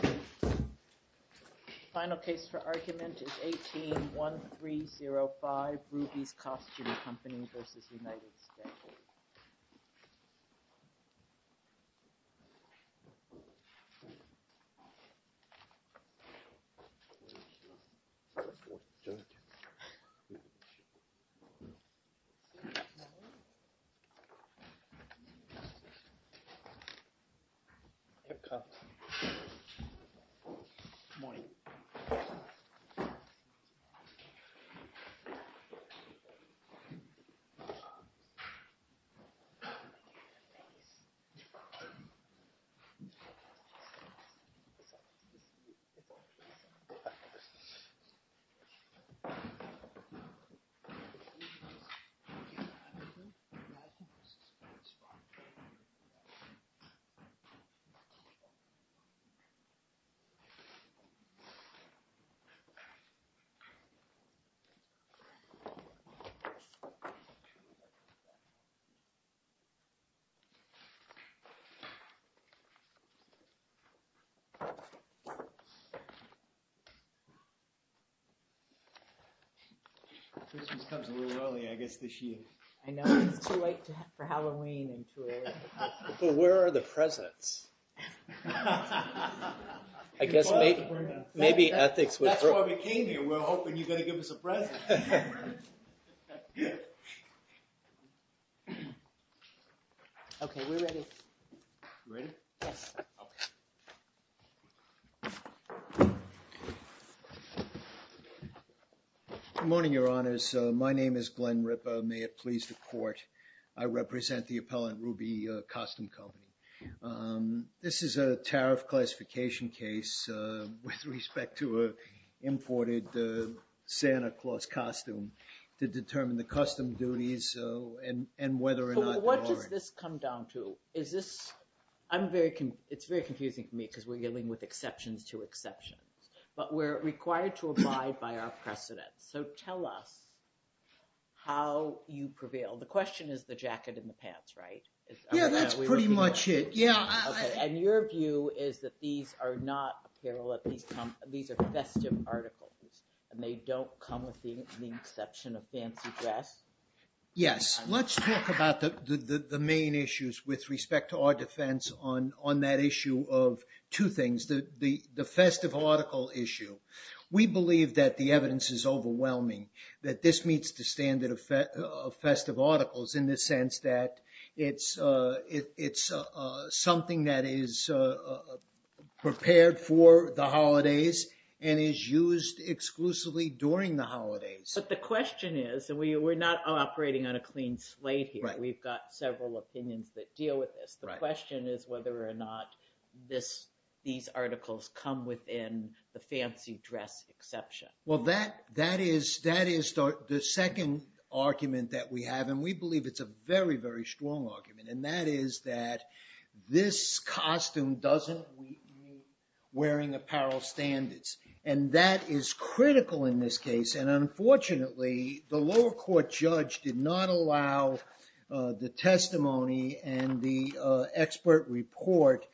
The final case for argument is 18-1305, Rubies Costume Company v. United States. This case is 18-1305, Rubies Costume Company v. United States. This case is 18-1305, Rubies Costume Company v. United States. Good morning, your honors. My name is Glenn Ripa. May it please the court, I represent the appellant, Rubies Costume Company. This is a tariff classification case with respect to an imported Santa Claus costume to determine the custom duties and whether or not they are. What does this come down to? Is this, I'm very, it's very confusing to me because we're dealing with exceptions to exceptions, but we're required to abide by our precedents. So tell us how you prevail. The question is the jacket and the pants, right? Yeah, that's pretty much it. And your view is that these are not apparel, these are festive articles and they don't come with the exception of fancy dress? Yes. Let's talk about the main issues with respect to our defense on that issue of two things. The festive article issue. We believe that the evidence is overwhelming that this meets the standard of festive articles in the sense that it's something that is prepared for the holidays and is used exclusively during the holidays. But the question is, and we're not operating on a clean slate here. We've got several opinions that deal with this. The question is whether or not these articles come within the fancy dress exception. Well, that is the second argument that we have. And we believe it's a very, very strong argument. And that is that this costume doesn't meet wearing apparel standards. And that is critical in this case. And unfortunately, the lower court judge did not allow the testimony and the expert report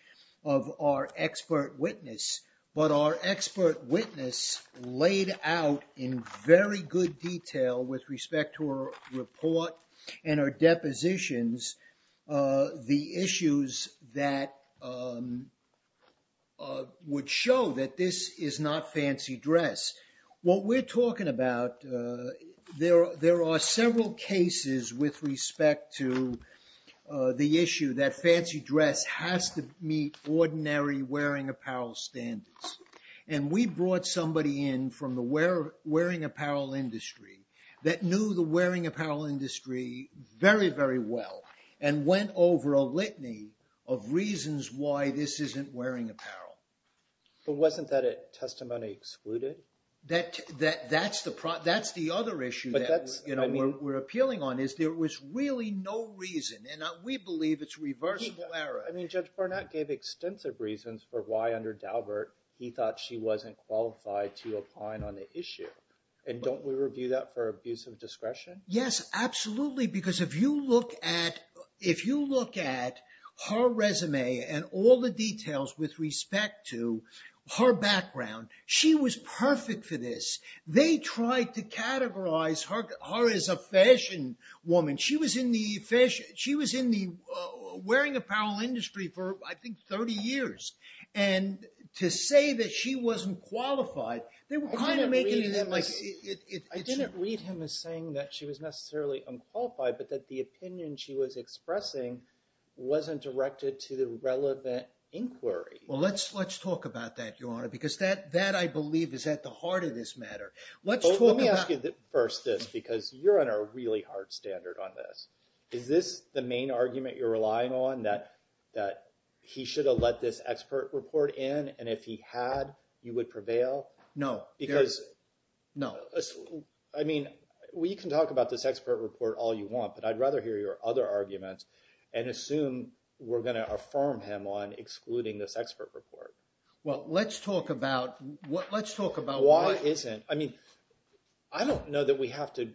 of our expert witness. But our expert witness laid out in very good detail with respect to her report and her depositions, the issues that would show that this is not fancy dress. What we're talking about, there are several cases with respect to the issue that fancy dress has to meet ordinary wearing apparel standards. And we brought somebody in from the wearing apparel industry that knew the wearing apparel industry very, very well and went over a litany of reasons why this isn't wearing apparel. But wasn't that a testimony excluded? That's the other issue that we're appealing on is there was really no reason. And we believe it's reversible error. I mean, Judge Barnett gave extensive reasons for why under Daubert he thought she wasn't qualified to apply on the issue. And don't we review that for abuse of discretion? Yes, absolutely. Because if you look at her resume and all the details with respect to her background, she was perfect for this. They tried to categorize her as a fashion woman. She was in the wearing apparel industry for, I think, 30 years. And to say that she wasn't qualified, they were kind of making it like- I didn't read him as saying that she was necessarily unqualified, but that the opinion she was expressing wasn't directed to the relevant inquiry. Well, let's talk about that, Your Honor, because that, I believe, is at the heart of this matter. Let's talk about- Let me ask you first this, because you're on a really hard standard on this. Is this the main argument you're relying on, that he should have let this expert report in, and if he had, you would prevail? No. No. I mean, we can talk about this expert report all you want, but I'd rather hear your other arguments and assume we're going to affirm him on excluding this expert report. Well, let's talk about why- I mean, I don't know that we have to,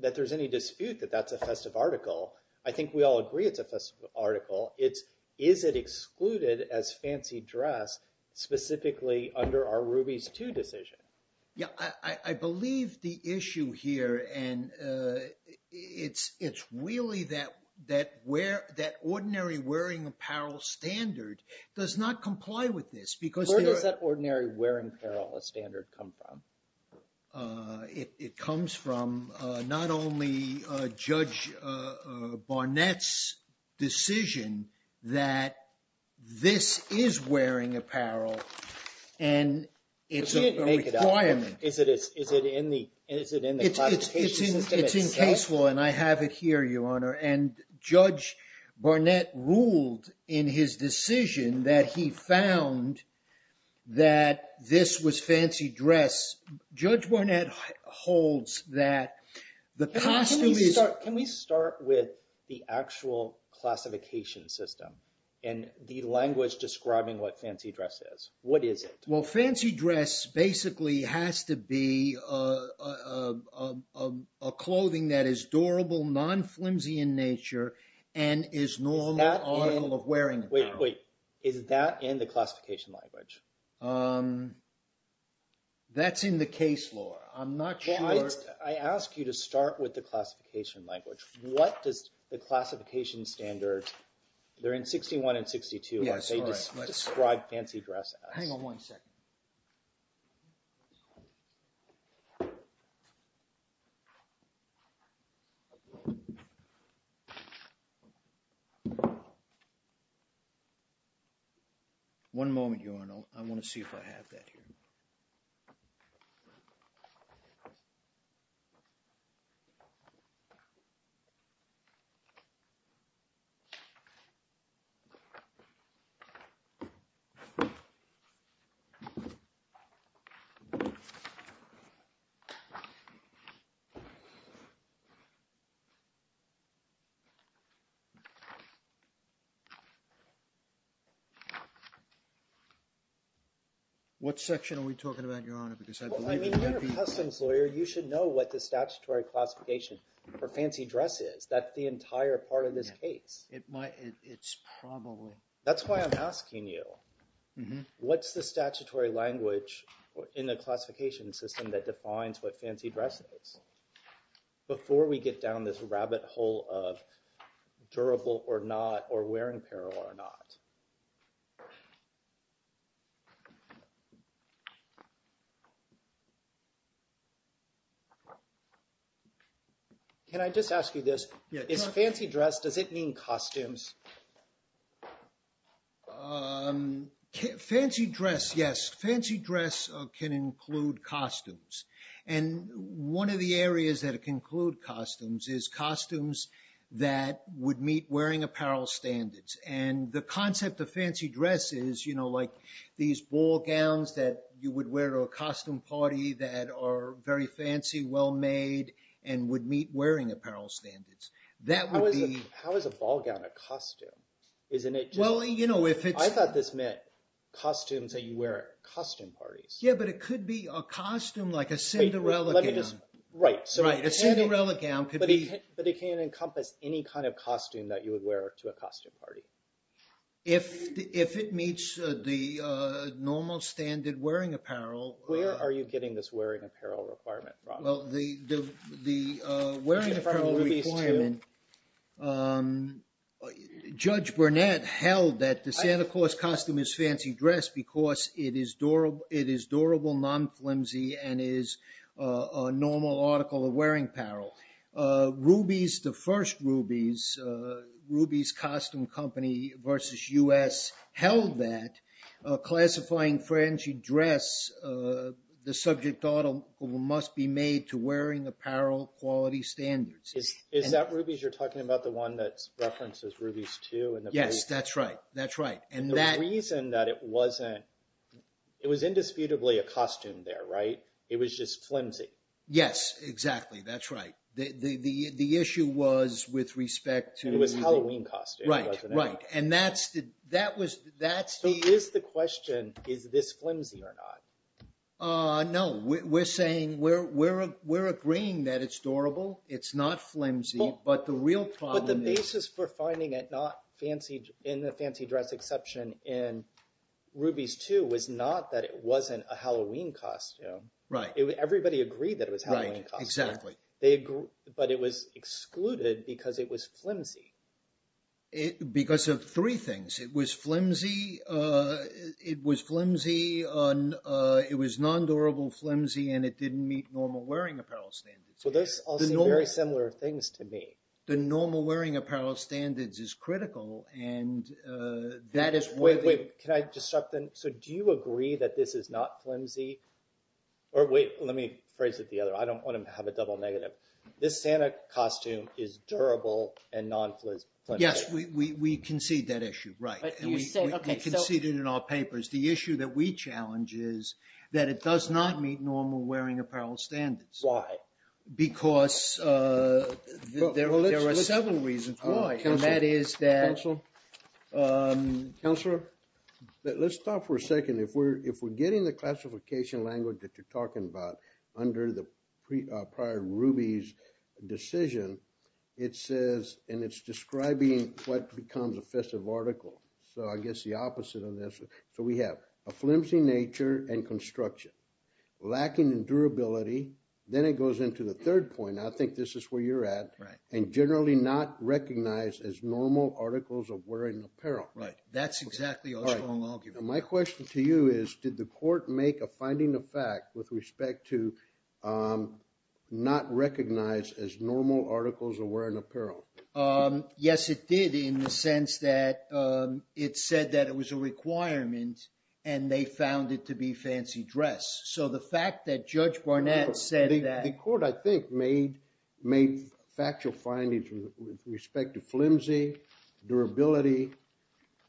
that there's any dispute that that's a festive article. I think we all agree it's a festive article. Is it excluded as fancy dress, specifically under our Rubies II decision? Yeah. I believe the issue here, and it's really that ordinary wearing apparel standard does not comply with this, because- Where does ordinary wearing apparel standard come from? It comes from not only Judge Barnett's decision that this is wearing apparel, and it's a requirement- But we didn't make it up. Is it in the classification system itself? and I have it here, Your Honor, and Judge Barnett ruled in his decision that he found that this was fancy dress. Judge Barnett holds that the costume is- Can we start with the actual classification system and the language describing what fancy dress is? What is it? Well, fancy dress basically has to be a clothing that is durable, non-flimsy in nature, and is normal article of wearing apparel. Wait, wait. Is that in the classification language? That's in the case law. I'm not sure- First, I ask you to start with the classification language. What does the classification standard, they're in 61 and 62- Yes, all right. Describe fancy dress as? Hang on one second. One moment, Your Honor. I want to see if I have that here. What section are we talking about, Your Honor? Because I believe we've got the- I don't know what the statutory classification for fancy dress is. That's the entire part of this case. It's probably- That's why I'm asking you. What's the statutory language in the classification system that defines what fancy dress is? Before we get down this rabbit hole of durable or not, or wearing apparel or not. Can I just ask you this? Is fancy dress, does it mean costumes? Fancy dress, yes. Fancy dress can include costumes. One of the areas that it can include costumes is costumes that would meet wearing apparel standards. The concept of fancy dress is like these ball gowns that you would wear to a costume party that are very fancy, well-made, and would meet wearing apparel standards. How is a ball gown a costume? I thought this meant costumes that you wear at costume parties. Yeah, but it could be a costume like a Cinderella gown. Right. A Cinderella gown could be- But it can encompass any kind of costume that you would wear to a costume party. If it meets the normal standard wearing apparel- Where are you getting this wearing apparel requirement from? Well, the wearing apparel requirement, Judge Burnett held that the Santa Claus costume is fancy dress because it is durable, non-flimsy, and is a normal article of wearing apparel. Rubies, the first Rubies, Rubies Costume Company versus U.S. held that classifying fancy dress, the subject article must be made to wearing apparel quality standards. Is that Rubies you're talking about, the one that references Rubies 2? Yes, that's right, that's right. And the reason that it wasn't, it was indisputably a costume there, right? It was just flimsy. Yes, exactly, that's right. The issue was with respect to- It was Halloween costume, wasn't it? Right, right. And that's the- So is the question, is this flimsy or not? No, we're saying we're agreeing that it's durable, it's not flimsy, but the real problem is- But the basis for finding it not in the fancy dress exception in Rubies 2 was not that it wasn't a Halloween costume. Right. Everybody agreed that it was Halloween costume. Right, exactly. But it was excluded because it was flimsy. Because of three things. It was flimsy, it was non-durable flimsy, and it didn't meet normal wearing apparel standards. Well, those all seem very similar things to me. The normal wearing apparel standards is critical, and that is why- Wait, can I just start then? So do you agree that this is not flimsy? Or wait, let me phrase it the other way. I don't want to have a double negative. This Santa costume is durable and non-flimsy. Yes, we concede that issue, right. And we concede it in our papers. The issue that we challenge is that it does not meet normal wearing apparel standards. Why? Because there are seven reasons why. Counselor? Let's stop for a second. If we're getting the classification language that you're talking about under the prior Ruby's decision, it says, and it's describing what becomes a festive article. So I guess the opposite of this. So we have a flimsy nature and construction, lacking in durability. Then it goes into the third point. I think this is where you're at, and generally not recognized as normal articles of wearing apparel. Right. That's exactly our strong argument. My question to you is, did the court make a finding of fact with respect to not recognize as normal articles of wearing apparel? Yes, it did in the sense that it said that it was a requirement and they found it to be fancy dress. So the fact that Judge Barnett said that- The court, I think, made factual findings with respect to flimsy, durability.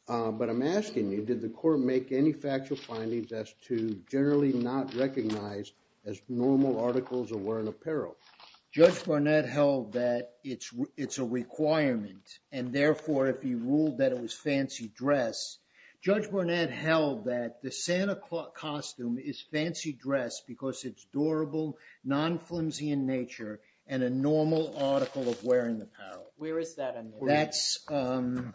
But I'm asking you, did the court make any factual findings as to generally not recognize as normal articles of wearing apparel? Judge Barnett held that it's a requirement. And therefore, if he ruled that it was fancy dress, Judge Barnett held that the Santa costume is fancy dress because it's durable, non-flimsy in nature, and a normal article of wearing apparel. Where is that in there?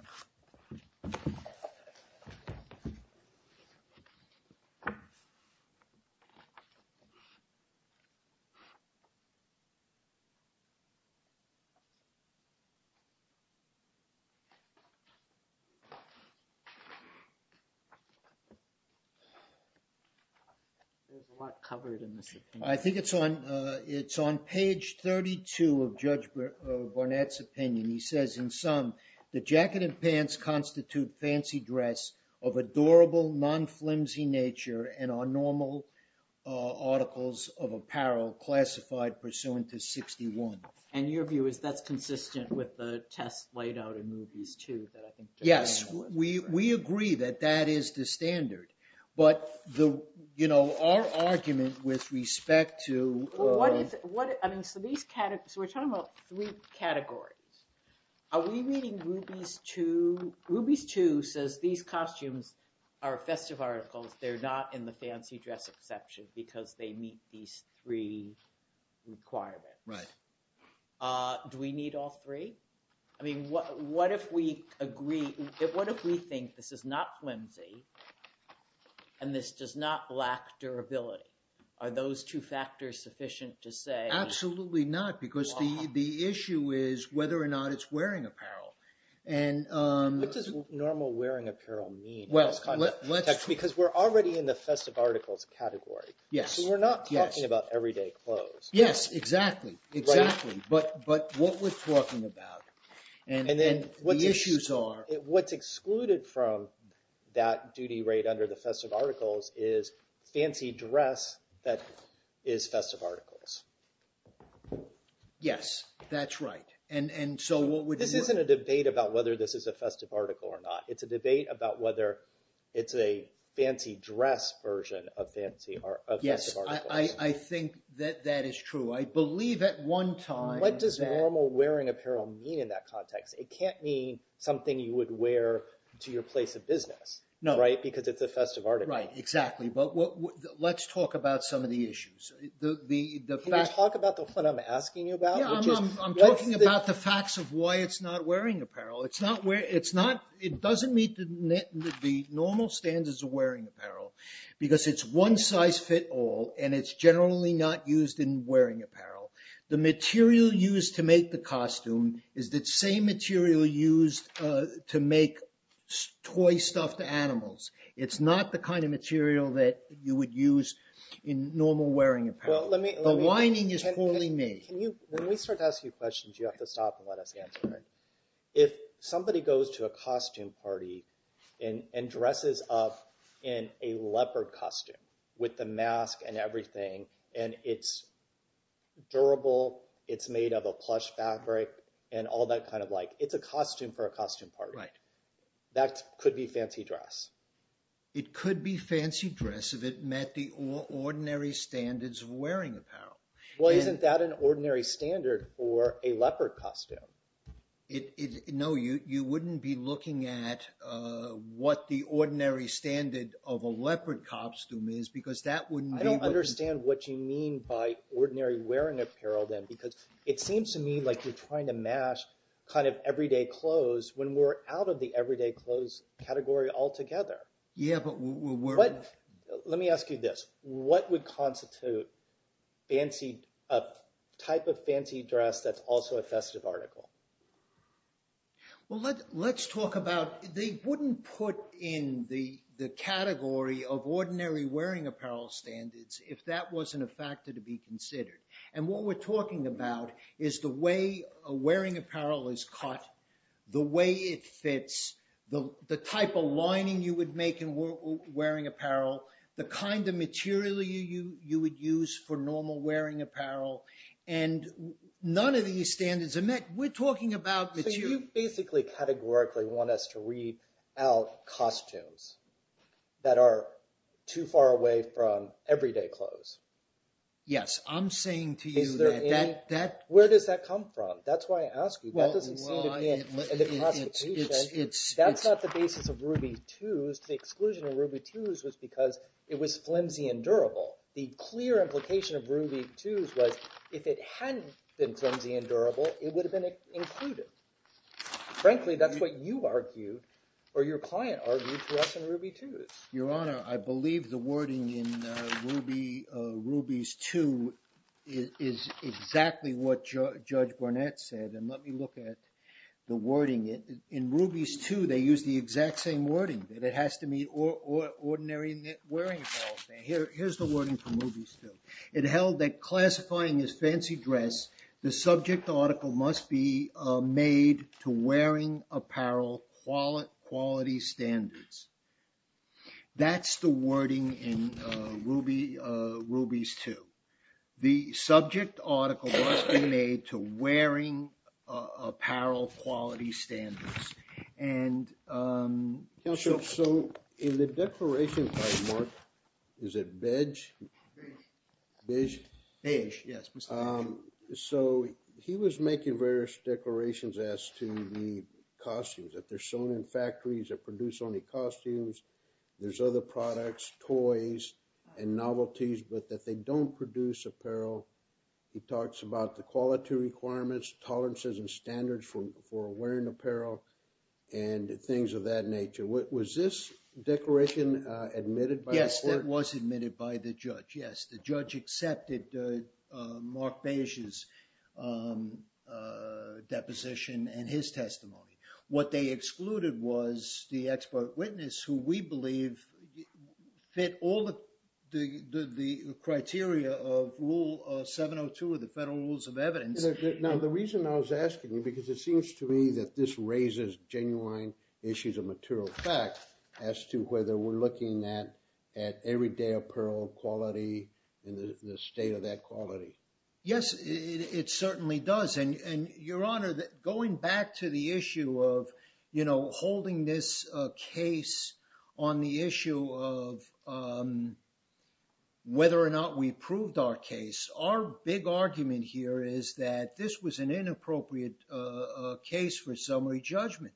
There's a lot covered in this. I think it's on, it's on page 32 of Judge Barnett's opinion. He says, in sum, the jacket and pants constitute fancy dress of adorable, non-flimsy nature and are normal articles of apparel classified pursuant to 61. And your view is that's consistent with the test laid out in movies too? Yes, we agree that that is the standard. But the, you know, our argument with respect to- So we're talking about three categories. Are we reading Ruby's Two? Ruby's Two says these costumes are festive articles. They're not in the fancy dress exception because they meet these three requirements. Right. Do we need all three? I mean, what if we agree, what if we think this is not flimsy and this does not lack durability? Are those two factors sufficient to say- Absolutely not, because the issue is whether or not it's wearing apparel. And- What does normal wearing apparel mean? Well, let's- Because we're already in the festive articles category. Yes. So we're not talking about everyday clothes. Yes, exactly. Exactly. But what we're talking about and the issues are- is festive articles. Yes, that's right. And so what would- This isn't a debate about whether this is a festive article or not. It's a debate about whether it's a fancy dress version of fancy or festive articles. Yes, I think that that is true. I believe at one time that- What does normal wearing apparel mean in that context? It can't mean something you would wear to your place of business. No. Right, because it's a festive article. Right, exactly. But let's talk about some of the issues. Can you talk about what I'm asking you about? Yeah, I'm talking about the facts of why it's not wearing apparel. It's not- It doesn't meet the normal standards of wearing apparel because it's one size fit all, and it's generally not used in wearing apparel. The material used to make the costume is the same material used to make toy-stuffed animals. It's not the kind of material that you would use in normal wearing apparel. Well, let me- The lining is wholly made. Can you- When we start to ask you questions, you have to stop and let us answer it. If somebody goes to a costume party and dresses up in a leopard costume with the mask and everything, and it's durable, it's made of a plush fabric, and all that kind of like- It's a costume for a costume party. Right. That could be fancy dress. It could be fancy dress if it met the ordinary standards of wearing apparel. Well, isn't that an ordinary standard for a leopard costume? No, you wouldn't be looking at what the ordinary standard of a leopard costume is because that wouldn't be- I don't understand what you mean by ordinary wearing apparel then, because it seems to me like you're trying to match kind of everyday clothes when we're out of the everyday clothes category altogether. Yeah, but we're- Let me ask you this. What would constitute a type of fancy dress that's also a festive article? Well, let's talk about- They wouldn't put in the category of ordinary wearing apparel standards if that wasn't a factor to be considered. And what we're talking about is the way a wearing apparel is cut, the way it fits, the type of lining you would make in wearing apparel, the kind of material you would use for normal wearing apparel, and none of these standards are met. We're talking about material- So you basically categorically want us to read out costumes that are too far away from everyday clothes. Yes, I'm saying to you that that- Where does that come from? That's why I ask you. That doesn't seem to be in the classification. That's not the basis of Ruby 2s. The exclusion of Ruby 2s was because it was flimsy and durable. The clear implication of Ruby 2s was if it hadn't been flimsy and durable, it would have been included. Frankly, that's what you argued or your client argued for us in Ruby 2s. Your Honor, I believe the wording in Ruby's 2 is exactly what Judge Barnett said, and let me look at the wording. In Ruby's 2, they use the exact same wording, that it has to meet ordinary wearing apparel standards. Here's the wording from Ruby's 2. It held that classifying as fancy dress, the subject article must be made to wearing apparel quality standards. That's the wording in Ruby's 2. The subject article must be made to wearing apparel quality standards. Counselor, so in the declaration by Mark, is it Beige? Beige. Beige? Beige, yes. So he was making various declarations as to the costumes, that they're sewn in factories that produce only costumes. There's other products, toys, and novelties, but that they don't produce apparel. He talks about the quality requirements, tolerances, and standards for wearing apparel, and things of that nature. Was this declaration admitted by the court? Yes, it was admitted by the judge. Yes, the judge accepted Mark Beige's deposition and his testimony. What they excluded was the expert witness, who we believe fit all the criteria of Rule 702 of the Federal Rules of Evidence. Now, the reason I was asking you, because it seems to me that this raises genuine issues of material fact as to whether we're looking at everyday apparel quality and the state of that quality. Yes, it certainly does. And, Your Honor, going back to the issue of, you know, holding this case on the issue of whether or not we proved our case, our big argument here is that this was an inappropriate case for summary judgment.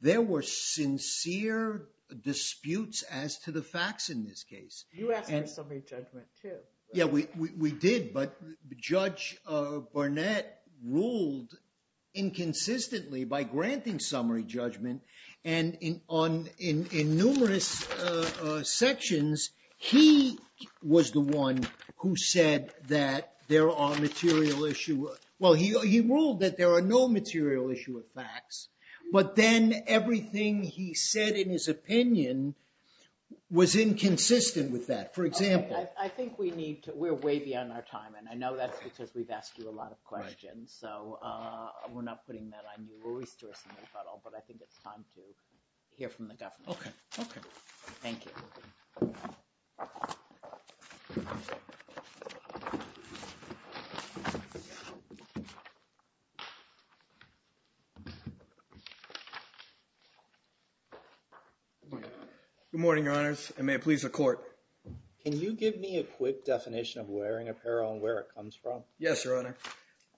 There were sincere disputes as to the facts in this case. You asked for summary judgment, too. Yeah, we did. But Judge Barnett ruled inconsistently by granting summary judgment. And in numerous sections, he was the one who said that there are material issue. Well, he ruled that there are no material issue of facts. But then everything he said in his opinion was inconsistent with that. I think we're way beyond our time. And I know that's because we've asked you a lot of questions. So we're not putting that on you. We're wasting our time. But I think it's time to hear from the government. Okay. Thank you. Good morning, Your Honors, and may it please the Court. Can you give me a quick definition of wearing apparel and where it comes from? Yes, Your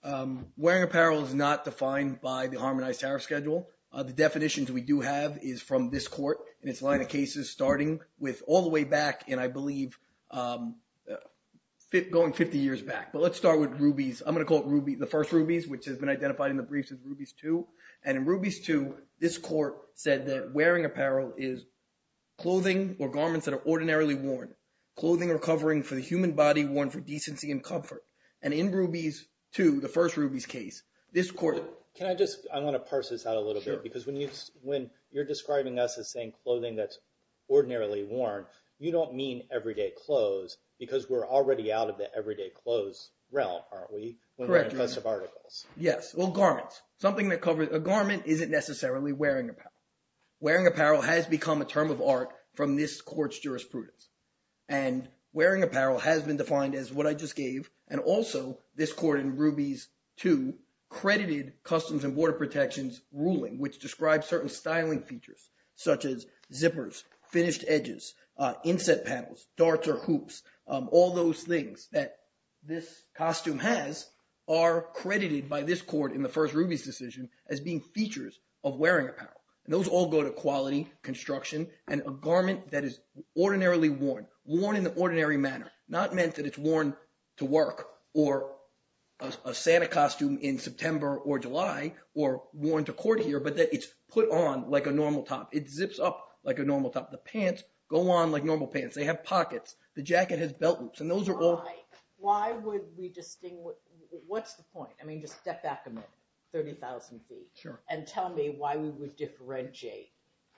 Honor. Wearing apparel is not defined by the Harmonized Tariff Schedule. The definitions we do have is from this Court and its line of cases starting with all the way back in, I believe, going 50 years back. But let's start with Rubies. I'm going to call it the first Rubies, which has been identified in the briefs as Rubies II. And in Rubies II, this Court said that wearing apparel is clothing or garments that are ordinarily worn, clothing or covering for the human body worn for decency and comfort. And in Rubies II, the first Rubies case, this Court – Sure. Because when you're describing us as saying clothing that's ordinarily worn, you don't mean everyday clothes because we're already out of the everyday clothes realm, aren't we? Correct. When we're in festive articles. Yes. Well, garments. Something that covers – a garment isn't necessarily wearing apparel. Wearing apparel has become a term of art from this Court's jurisprudence. And wearing apparel has been defined as what I just gave, and also this Court in Rubies II credited Customs and Border Protection's ruling, which describes certain styling features, such as zippers, finished edges, inset panels, darts or hoops. All those things that this costume has are credited by this Court in the first Rubies decision as being features of wearing apparel. And those all go to quality, construction, and a garment that is ordinarily worn, worn in an ordinary manner, not meant that it's worn to work or a Santa costume in September or July or worn to court here, but that it's put on like a normal top. It zips up like a normal top. The pants go on like normal pants. They have pockets. The jacket has belt loops, and those are all – Why would we distinguish – what's the point? I mean just step back a minute 30,000 feet. Sure. And tell me why we would differentiate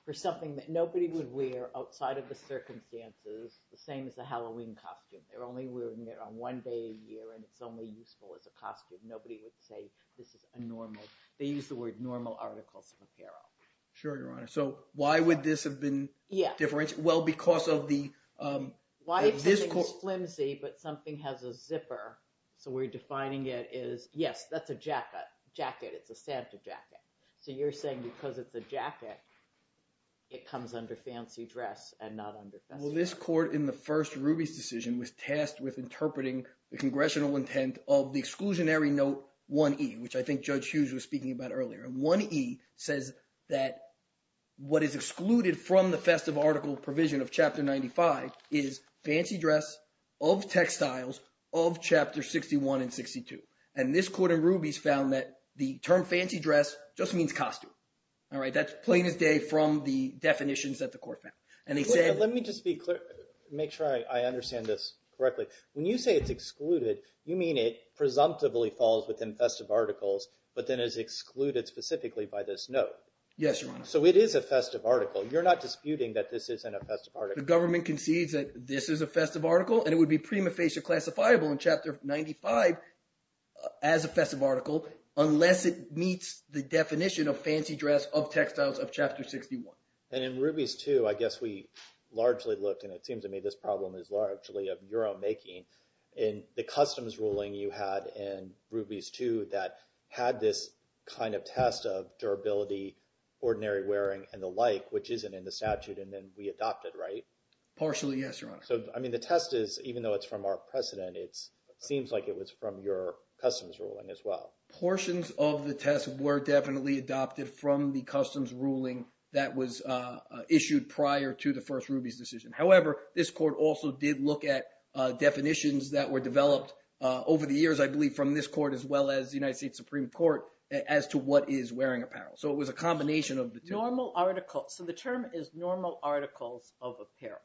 for something that nobody would wear outside of the circumstances, the same as a Halloween costume. They're only wearing it on one day a year, and it's only useful as a costume. Nobody would say this is a normal – they use the word normal articles of apparel. Sure, Your Honor. So why would this have been different? Yeah. Well, because of the – Why if something is flimsy but something has a zipper, so we're defining it as – yes, that's a jacket. It's a Santa jacket. So you're saying because it's a jacket, it comes under fancy dress and not under festive. Ruby's decision was tasked with interpreting the congressional intent of the exclusionary note 1E, which I think Judge Hughes was speaking about earlier. And 1E says that what is excluded from the festive article provision of chapter 95 is fancy dress of textiles of chapter 61 and 62. And this court in Ruby's found that the term fancy dress just means costume. That's plain as day from the definitions that the court found. Let me just be – make sure I understand this correctly. When you say it's excluded, you mean it presumptively falls within festive articles but then is excluded specifically by this note. Yes, Your Honor. So it is a festive article. You're not disputing that this isn't a festive article. The government concedes that this is a festive article, and it would be prima facie classifiable in chapter 95 as a festive article unless it meets the definition of fancy dress of textiles of chapter 61. And in Ruby's too, I guess we largely looked, and it seems to me this problem is largely of your own making. In the customs ruling you had in Ruby's too that had this kind of test of durability, ordinary wearing, and the like, which isn't in the statute, and then we adopted, right? Partially, yes, Your Honor. So, I mean, the test is, even though it's from our precedent, it seems like it was from your customs ruling as well. Portions of the test were definitely adopted from the customs ruling that was issued prior to the first Ruby's decision. However, this court also did look at definitions that were developed over the years, I believe, from this court as well as the United States Supreme Court as to what is wearing apparel. So it was a combination of the two. Normal articles. So the term is normal articles of apparel.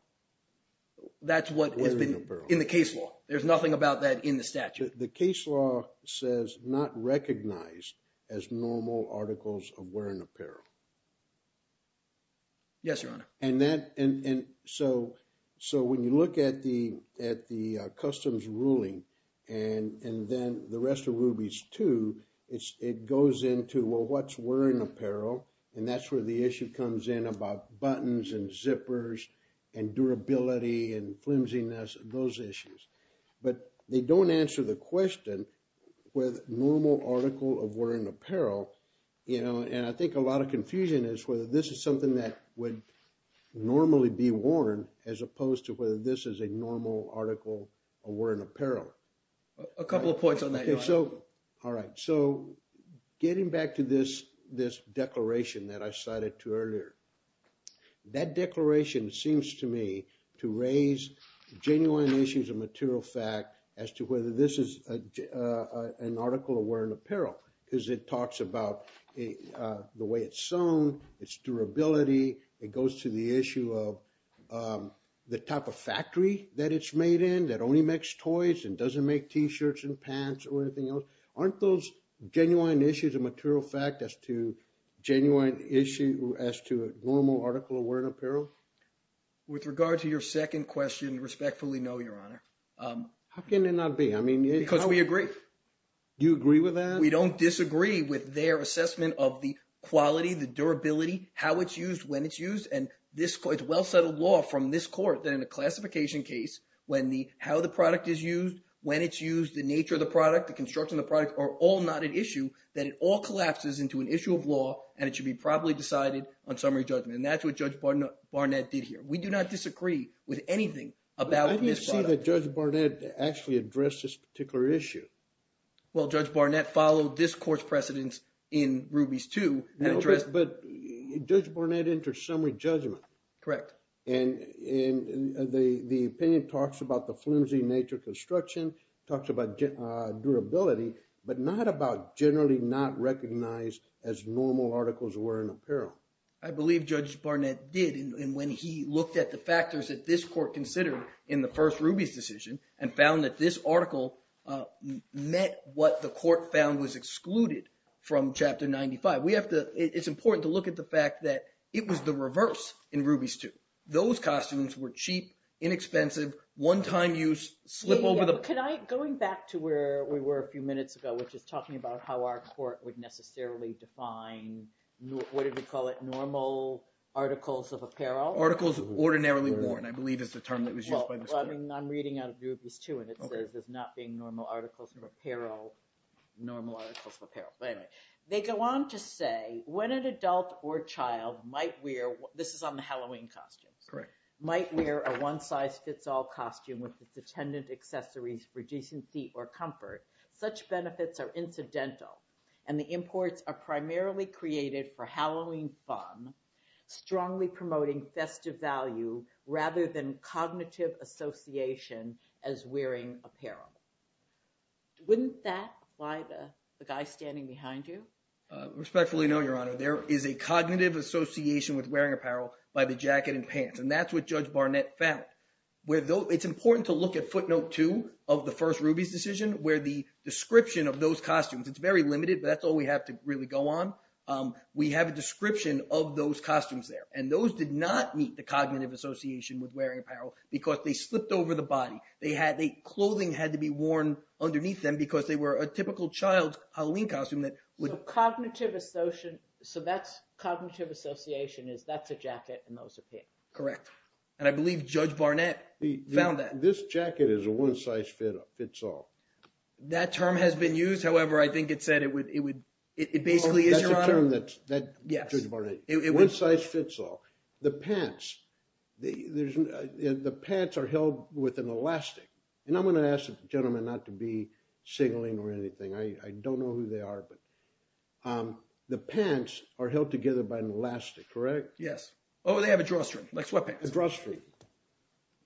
That's what has been in the case law. There's nothing about that in the statute. The case law says not recognized as normal articles of wearing apparel. Yes, Your Honor. And so when you look at the customs ruling and then the rest of Ruby's too, it goes into, well, what's wearing apparel? And that's where the issue comes in about buttons and zippers and durability and flimsiness, those issues. But they don't answer the question with normal article of wearing apparel. You know, and I think a lot of confusion is whether this is something that would normally be worn as opposed to whether this is a normal article of wearing apparel. A couple of points on that. All right. So getting back to this declaration that I cited to earlier, that declaration seems to me to raise genuine issues of material fact as to whether this is an article of wearing apparel. Because it talks about the way it's sewn, its durability. It goes to the issue of the type of factory that it's made in that only makes toys and doesn't make T-shirts and pants or anything else. Aren't those genuine issues of material fact as to genuine issue as to normal article of wearing apparel? With regard to your second question, respectfully, no, Your Honor. How can it not be? Because we agree. Do you agree with that? We don't disagree with their assessment of the quality, the durability, how it's used, when it's used. And this is well-settled law from this court that in a classification case, when the – how the product is used, when it's used, the nature of the product, the construction of the product are all not an issue. Then it all collapses into an issue of law, and it should be properly decided on summary judgment. And that's what Judge Barnett did here. We do not disagree with anything about this product. How did Judge Barnett actually address this particular issue? Well, Judge Barnett followed this court's precedence in Rubies II and addressed – But Judge Barnett entered summary judgment. Correct. And the opinion talks about the flimsy nature of construction, talks about durability, but not about generally not recognized as normal articles of wearing apparel. I believe Judge Barnett did, and when he looked at the factors that this court considered in the first Rubies decision and found that this article met what the court found was excluded from Chapter 95. We have to – it's important to look at the fact that it was the reverse in Rubies II. Those costumes were cheap, inexpensive, one-time use, slip over the – Going back to where we were a few minutes ago, which is talking about how our court would necessarily define – what did we call it? Normal articles of apparel? Articles ordinarily worn, I believe is the term that was used by this court. Well, I'm reading out of Rubies II, and it says there's not being normal articles of apparel. They go on to say, when an adult or child might wear – this is on the Halloween costumes – might wear a one-size-fits-all costume with its attendant accessories for decency or comfort, such benefits are incidental, and the imports are primarily created for Halloween fun, strongly promoting festive value rather than cognitive association as wearing apparel. Wouldn't that lie the guy standing behind you? Respectfully, no, Your Honor. There is a cognitive association with wearing apparel by the jacket and pants, and that's what Judge Barnett found. It's important to look at footnote two of the first Rubies decision where the description of those costumes – it's very limited, but that's all we have to really go on. We have a description of those costumes there, and those did not meet the cognitive association with wearing apparel because they slipped over the body. Clothing had to be worn underneath them because they were a typical child's Halloween costume that would – So cognitive association is that's a jacket and those are pants. Correct, and I believe Judge Barnett found that. This jacket is a one-size-fits-all. That term has been used. However, I think it said it would – it basically is, Your Honor. That's a term that Judge Barnett – one-size-fits-all. The pants. The pants are held with an elastic, and I'm going to ask the gentleman not to be signaling or anything. I don't know who they are, but the pants are held together by an elastic, correct? Yes. Oh, they have a drawstring, like sweatpants. A drawstring.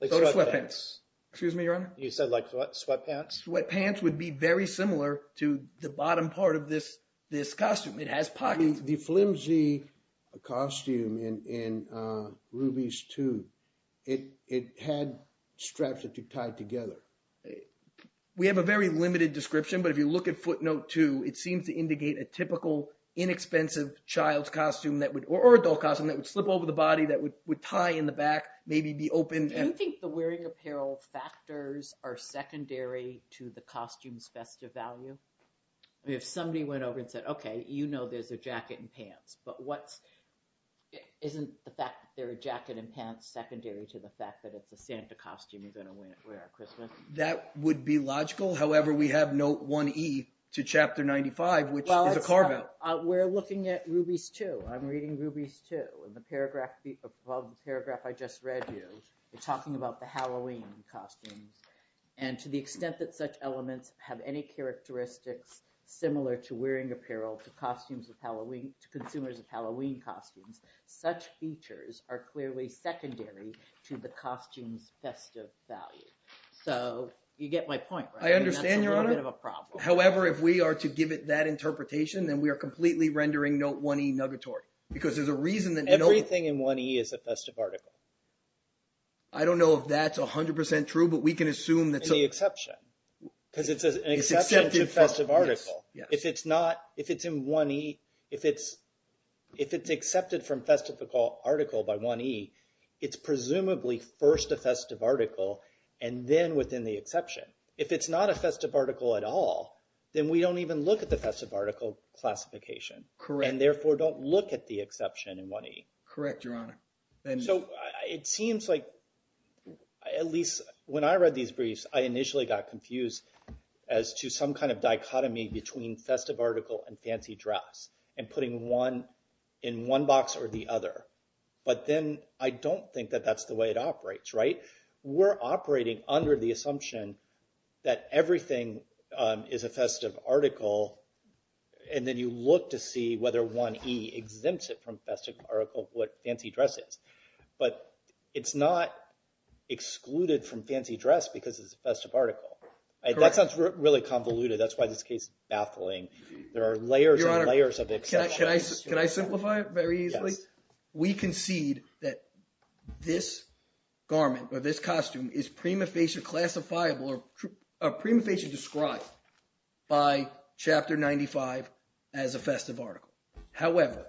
Like sweatpants. Excuse me, Your Honor? You said like sweatpants? Sweatpants would be very similar to the bottom part of this costume. It has pockets. The flimsy costume in Rubies II, it had straps that you tied together. We have a very limited description, but if you look at footnote two, it seems to indicate a typical, inexpensive child's costume that would – or adult costume that would slip over the body, that would tie in the back, maybe be open. Do you think the wearing apparel factors are secondary to the costume's festive value? If somebody went over and said, okay, you know there's a jacket and pants, but what's – isn't the fact that there's a jacket and pants secondary to the fact that it's a Santa costume you're going to wear at Christmas? That would be logical. However, we have note 1E to Chapter 95, which is a carve-out. We're looking at Rubies II. I'm reading Rubies II. In the paragraph – above the paragraph I just read you, you're talking about the Halloween costumes. To the extent that such elements have any characteristics similar to wearing apparel to costumes of Halloween – to consumers of Halloween costumes, such features are clearly secondary to the costume's festive value. So you get my point, right? That's a little bit of a problem. I understand, Your Honor. However, if we are to give it that interpretation, then we are completely rendering note 1E nuggatory because there's a reason that note – Everything in 1E is a festive article. I don't know if that's 100% true, but we can assume that – In the exception because it's an exception to festive article. Yes. If it's not – if it's in 1E – if it's accepted from festive article by 1E, it's presumably first a festive article and then within the exception. If it's not a festive article at all, then we don't even look at the festive article classification. Correct. And therefore, don't look at the exception in 1E. Correct, Your Honor. So it seems like – at least when I read these briefs, I initially got confused as to some kind of dichotomy between festive article and fancy dress and putting one in one box or the other. But then I don't think that that's the way it operates, right? We're operating under the assumption that everything is a festive article, and then you look to see whether 1E exempts it from festive article what fancy dress is. But it's not excluded from fancy dress because it's a festive article. That sounds really convoluted. That's why this case is baffling. There are layers and layers of exceptions. Your Honor, can I simplify it very easily? Yes. We concede that this garment or this costume is prima facie classifiable or prima facie described by Chapter 95 as a festive article. However,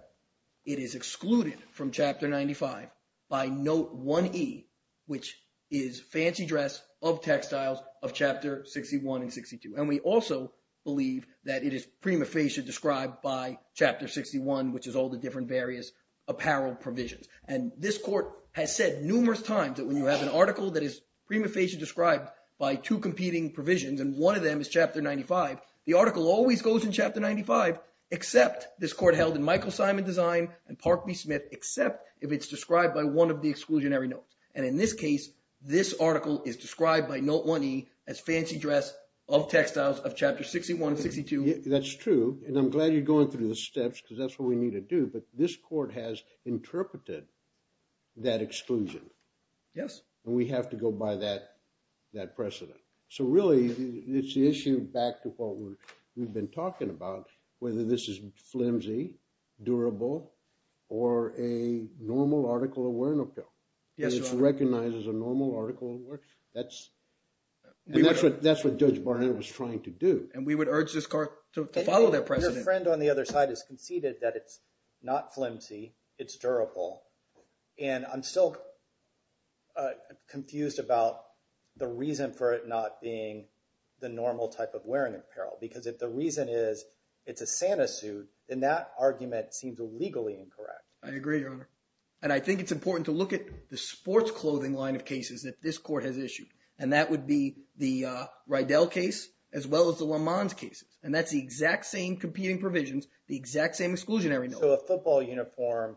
it is excluded from Chapter 95 by Note 1E, which is fancy dress of textiles of Chapter 61 and 62. And we also believe that it is prima facie described by Chapter 61, which is all the different various apparel provisions. And this court has said numerous times that when you have an article that is prima facie described by two competing provisions and one of them is Chapter 95, the article always goes in Chapter 95 except this court held in Michael Simon Design and Park B. Smith except if it's described by one of the exclusionary notes. And in this case, this article is described by Note 1E as fancy dress of textiles of Chapter 61 and 62. That's true, and I'm glad you're going through the steps because that's what we need to do. But this court has interpreted that exclusion. Yes. And we have to go by that precedent. So really, it's the issue back to what we've been talking about, whether this is flimsy, durable, or a normal article of wear and appeal. Yes, Your Honor. And it's recognized as a normal article of wear. That's what Judge Barnett was trying to do. And we would urge this court to follow that precedent. My friend on the other side has conceded that it's not flimsy. It's durable. And I'm still confused about the reason for it not being the normal type of wear and apparel because if the reason is it's a Santa suit, then that argument seems legally incorrect. I agree, Your Honor. And I think it's important to look at the sports clothing line of cases that this court has issued. And that would be the Rydell case as well as the Lemans cases. And that's the exact same competing provisions, the exact same exclusionary note. So a football uniform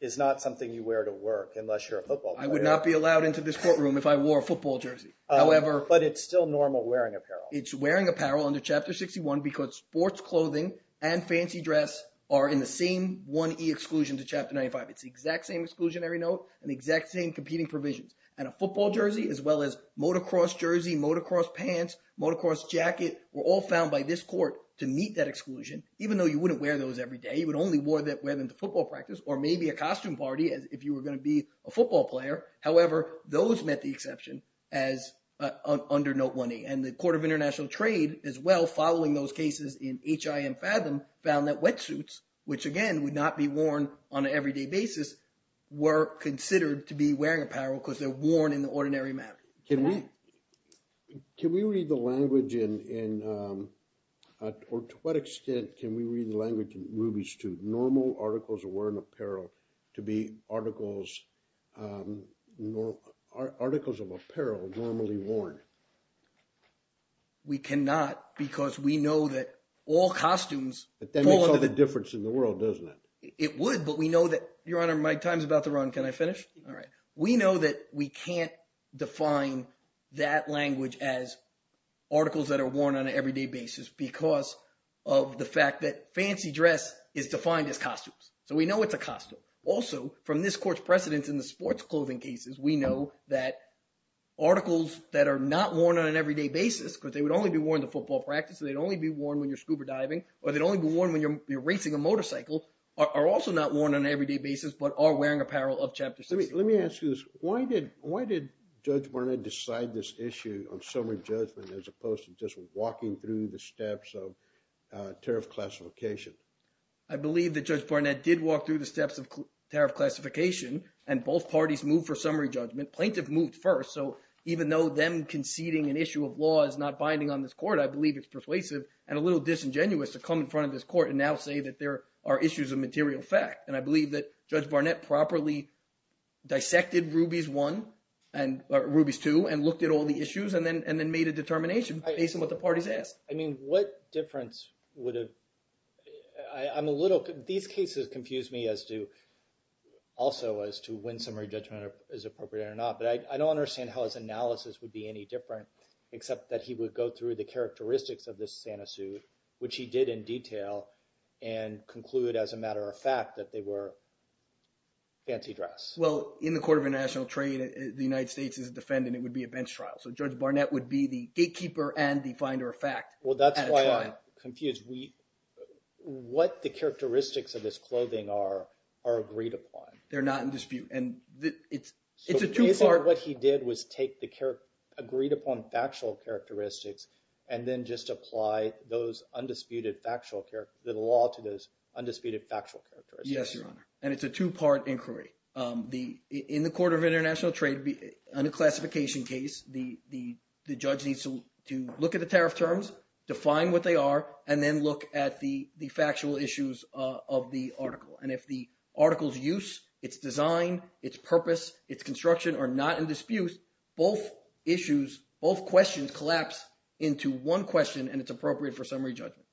is not something you wear to work unless you're a football player. I would not be allowed into this courtroom if I wore a football jersey. But it's still normal wearing apparel. It's wearing apparel under Chapter 61 because sports clothing and fancy dress are in the same 1E exclusion to Chapter 95. It's the exact same exclusionary note and the exact same competing provisions. And a football jersey as well as motocross jersey, motocross pants, motocross jacket were all found by this court to meet that exclusion even though you wouldn't wear those every day. You would only wear them to football practice or maybe a costume party if you were going to be a football player. However, those met the exception as under Note 1E. And the Court of International Trade as well following those cases in H.I.M. Fathom found that wetsuits, which again would not be worn on an everyday basis, were considered to be wearing apparel because they're worn in the ordinary manner. Can we read the language in – or to what extent can we read the language in Ruby's 2, normal articles of wearing apparel to be articles of apparel normally worn? We cannot because we know that all costumes… But that makes all the difference in the world, doesn't it? It would, but we know that – Your Honor, my time is about to run. Can I finish? All right. We know that we can't define that language as articles that are worn on an everyday basis because of the fact that fancy dress is defined as costumes. So we know it's a costume. Also, from this court's precedence in the sports clothing cases, we know that articles that are not worn on an everyday basis because they would only be worn in the football practice and they'd only be worn when you're scuba diving or they'd only be worn when you're racing a motorcycle are also not worn on an everyday basis but are wearing apparel of Chapter 16. Let me ask you this. Why did Judge Barnett decide this issue on summary judgment as opposed to just walking through the steps of tariff classification? I believe that Judge Barnett did walk through the steps of tariff classification and both parties moved for summary judgment. Plaintiff moved first, so even though them conceding an issue of law is not binding on this court, I believe it's persuasive and a little disingenuous to come in front of this court and now say that there are issues of material fact. And I believe that Judge Barnett properly dissected Rubies I and – or Rubies II and looked at all the issues and then made a determination based on what the parties asked. I mean, what difference would have – I'm a little – these cases confuse me as to – also as to when summary judgment is appropriate or not. But I don't understand how his analysis would be any different except that he would go through the characteristics of this Santa suit, which he did in detail, and conclude as a matter of fact that they were fancy dress. Well, in the court of international trade, the United States is a defendant. It would be a bench trial. So Judge Barnett would be the gatekeeper and the finder of fact at a trial. Well, that's why I'm confused. What the characteristics of this clothing are agreed upon? They're not in dispute, and it's a two-part – So basically what he did was take the agreed upon factual characteristics and then just apply those undisputed factual – the law to those undisputed factual characteristics. Yes, Your Honor, and it's a two-part inquiry. In the court of international trade, under classification case, the judge needs to look at the tariff terms, define what they are, and then look at the factual issues of the article. And if the article's use, its design, its purpose, its construction are not in dispute, both issues – both questions collapse into one question, and it's appropriate for summary judgment.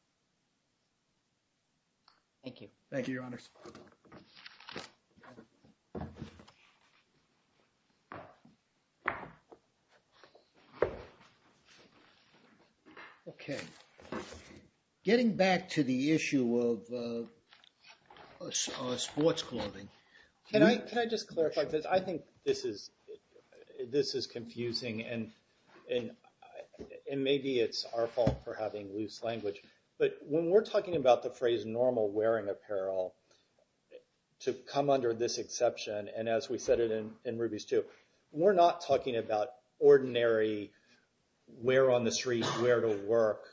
Thank you. Thank you, Your Honors. Thank you, Your Honors. Okay. Getting back to the issue of sports clothing – Can I just clarify? I think this is confusing, and maybe it's our fault for having loose language. But when we're talking about the phrase normal wearing apparel to come under this exception, and as we said it in Ruby's too, we're not talking about ordinary wear on the street, wear to work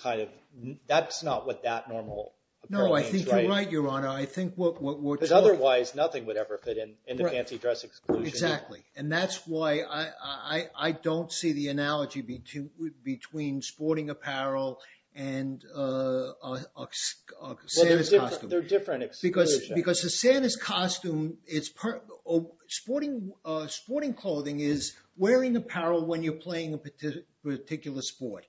kind of – that's not what that normal apparel means, right? No, I think you're right, Your Honor. I think what we're – Because otherwise, nothing would ever fit in the fancy dress exclusion. Exactly, and that's why I don't see the analogy between sporting apparel and a Santa's costume. Well, they're different exclusions. Because the Santa's costume is – sporting clothing is wearing apparel when you're playing a particular sport.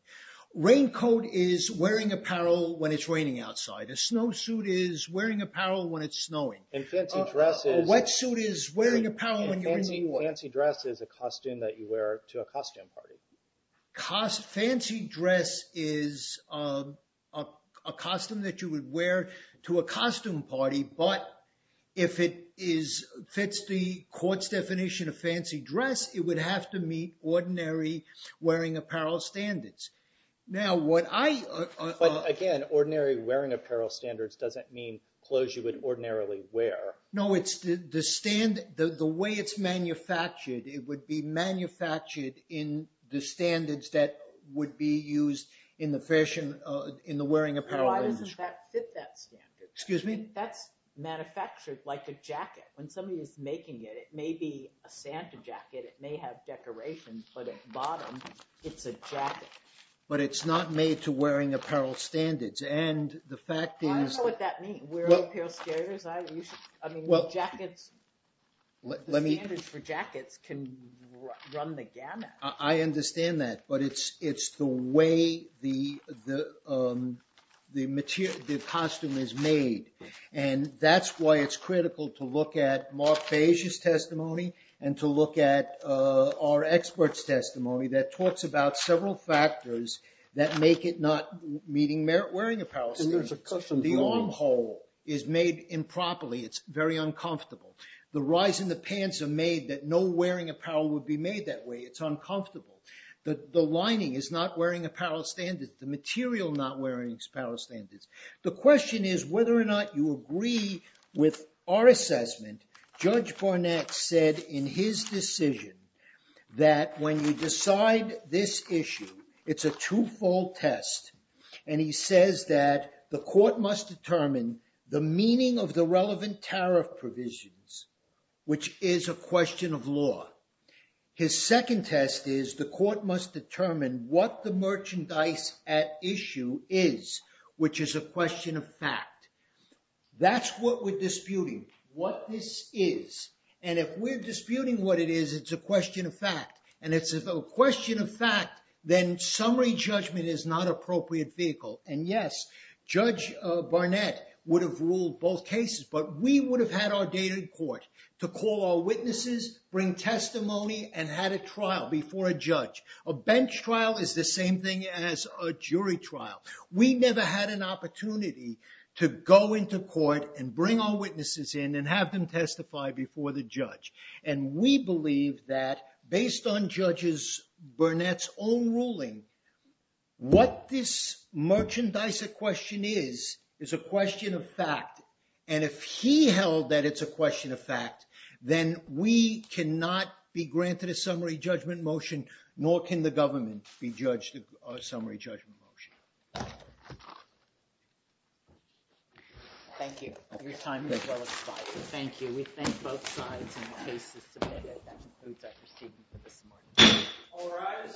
Raincoat is wearing apparel when it's raining outside. A snowsuit is wearing apparel when it's snowing. And fancy dress is – Fancy dress is a costume that you wear to a costume party. Fancy dress is a costume that you would wear to a costume party, but if it fits the court's definition of fancy dress, it would have to meet ordinary wearing apparel standards. Now, what I – But again, ordinary wearing apparel standards doesn't mean clothes you would ordinarily wear. No, it's the standard – the way it's manufactured, it would be manufactured in the standards that would be used in the fashion – in the wearing apparel industry. Why doesn't that fit that standard? Excuse me? That's manufactured like a jacket. When somebody is making it, it may be a Santa jacket. It may have decorations, but at the bottom, it's a jacket. But it's not made to wearing apparel standards, and the fact is – I don't know what that means. I mean, jackets – the standards for jackets can run the gamut. I understand that, but it's the way the costume is made. And that's why it's critical to look at Mark Beige's testimony and to look at our expert's testimony that talks about several factors that make it not meeting wearing apparel standards. The armhole is made improperly. It's very uncomfortable. The rise in the pants are made that no wearing apparel would be made that way. It's uncomfortable. The lining is not wearing apparel standards. The material not wearing apparel standards. The question is whether or not you agree with our assessment. Judge Barnett said in his decision that when you decide this issue, it's a two-fold test, and he says that the court must determine the meaning of the relevant tariff provisions, which is a question of law. His second test is the court must determine what the merchandise at issue is, which is a question of fact. That's what we're disputing. What this is, and if we're disputing what it is, it's a question of fact. And if it's a question of fact, then summary judgment is not an appropriate vehicle. And yes, Judge Barnett would have ruled both cases, but we would have had our data in court to call our witnesses, bring testimony, and had a trial before a judge. A bench trial is the same thing as a jury trial. We never had an opportunity to go into court and bring our witnesses in and have them testify before the judge. And we believe that based on Judge Barnett's own ruling, what this merchandise at question is is a question of fact. And if he held that it's a question of fact, then we cannot be granted a summary judgment motion, nor can the government be judged a summary judgment motion. Thank you. Your time. Thank you. Thank you. We thank both sides. All right.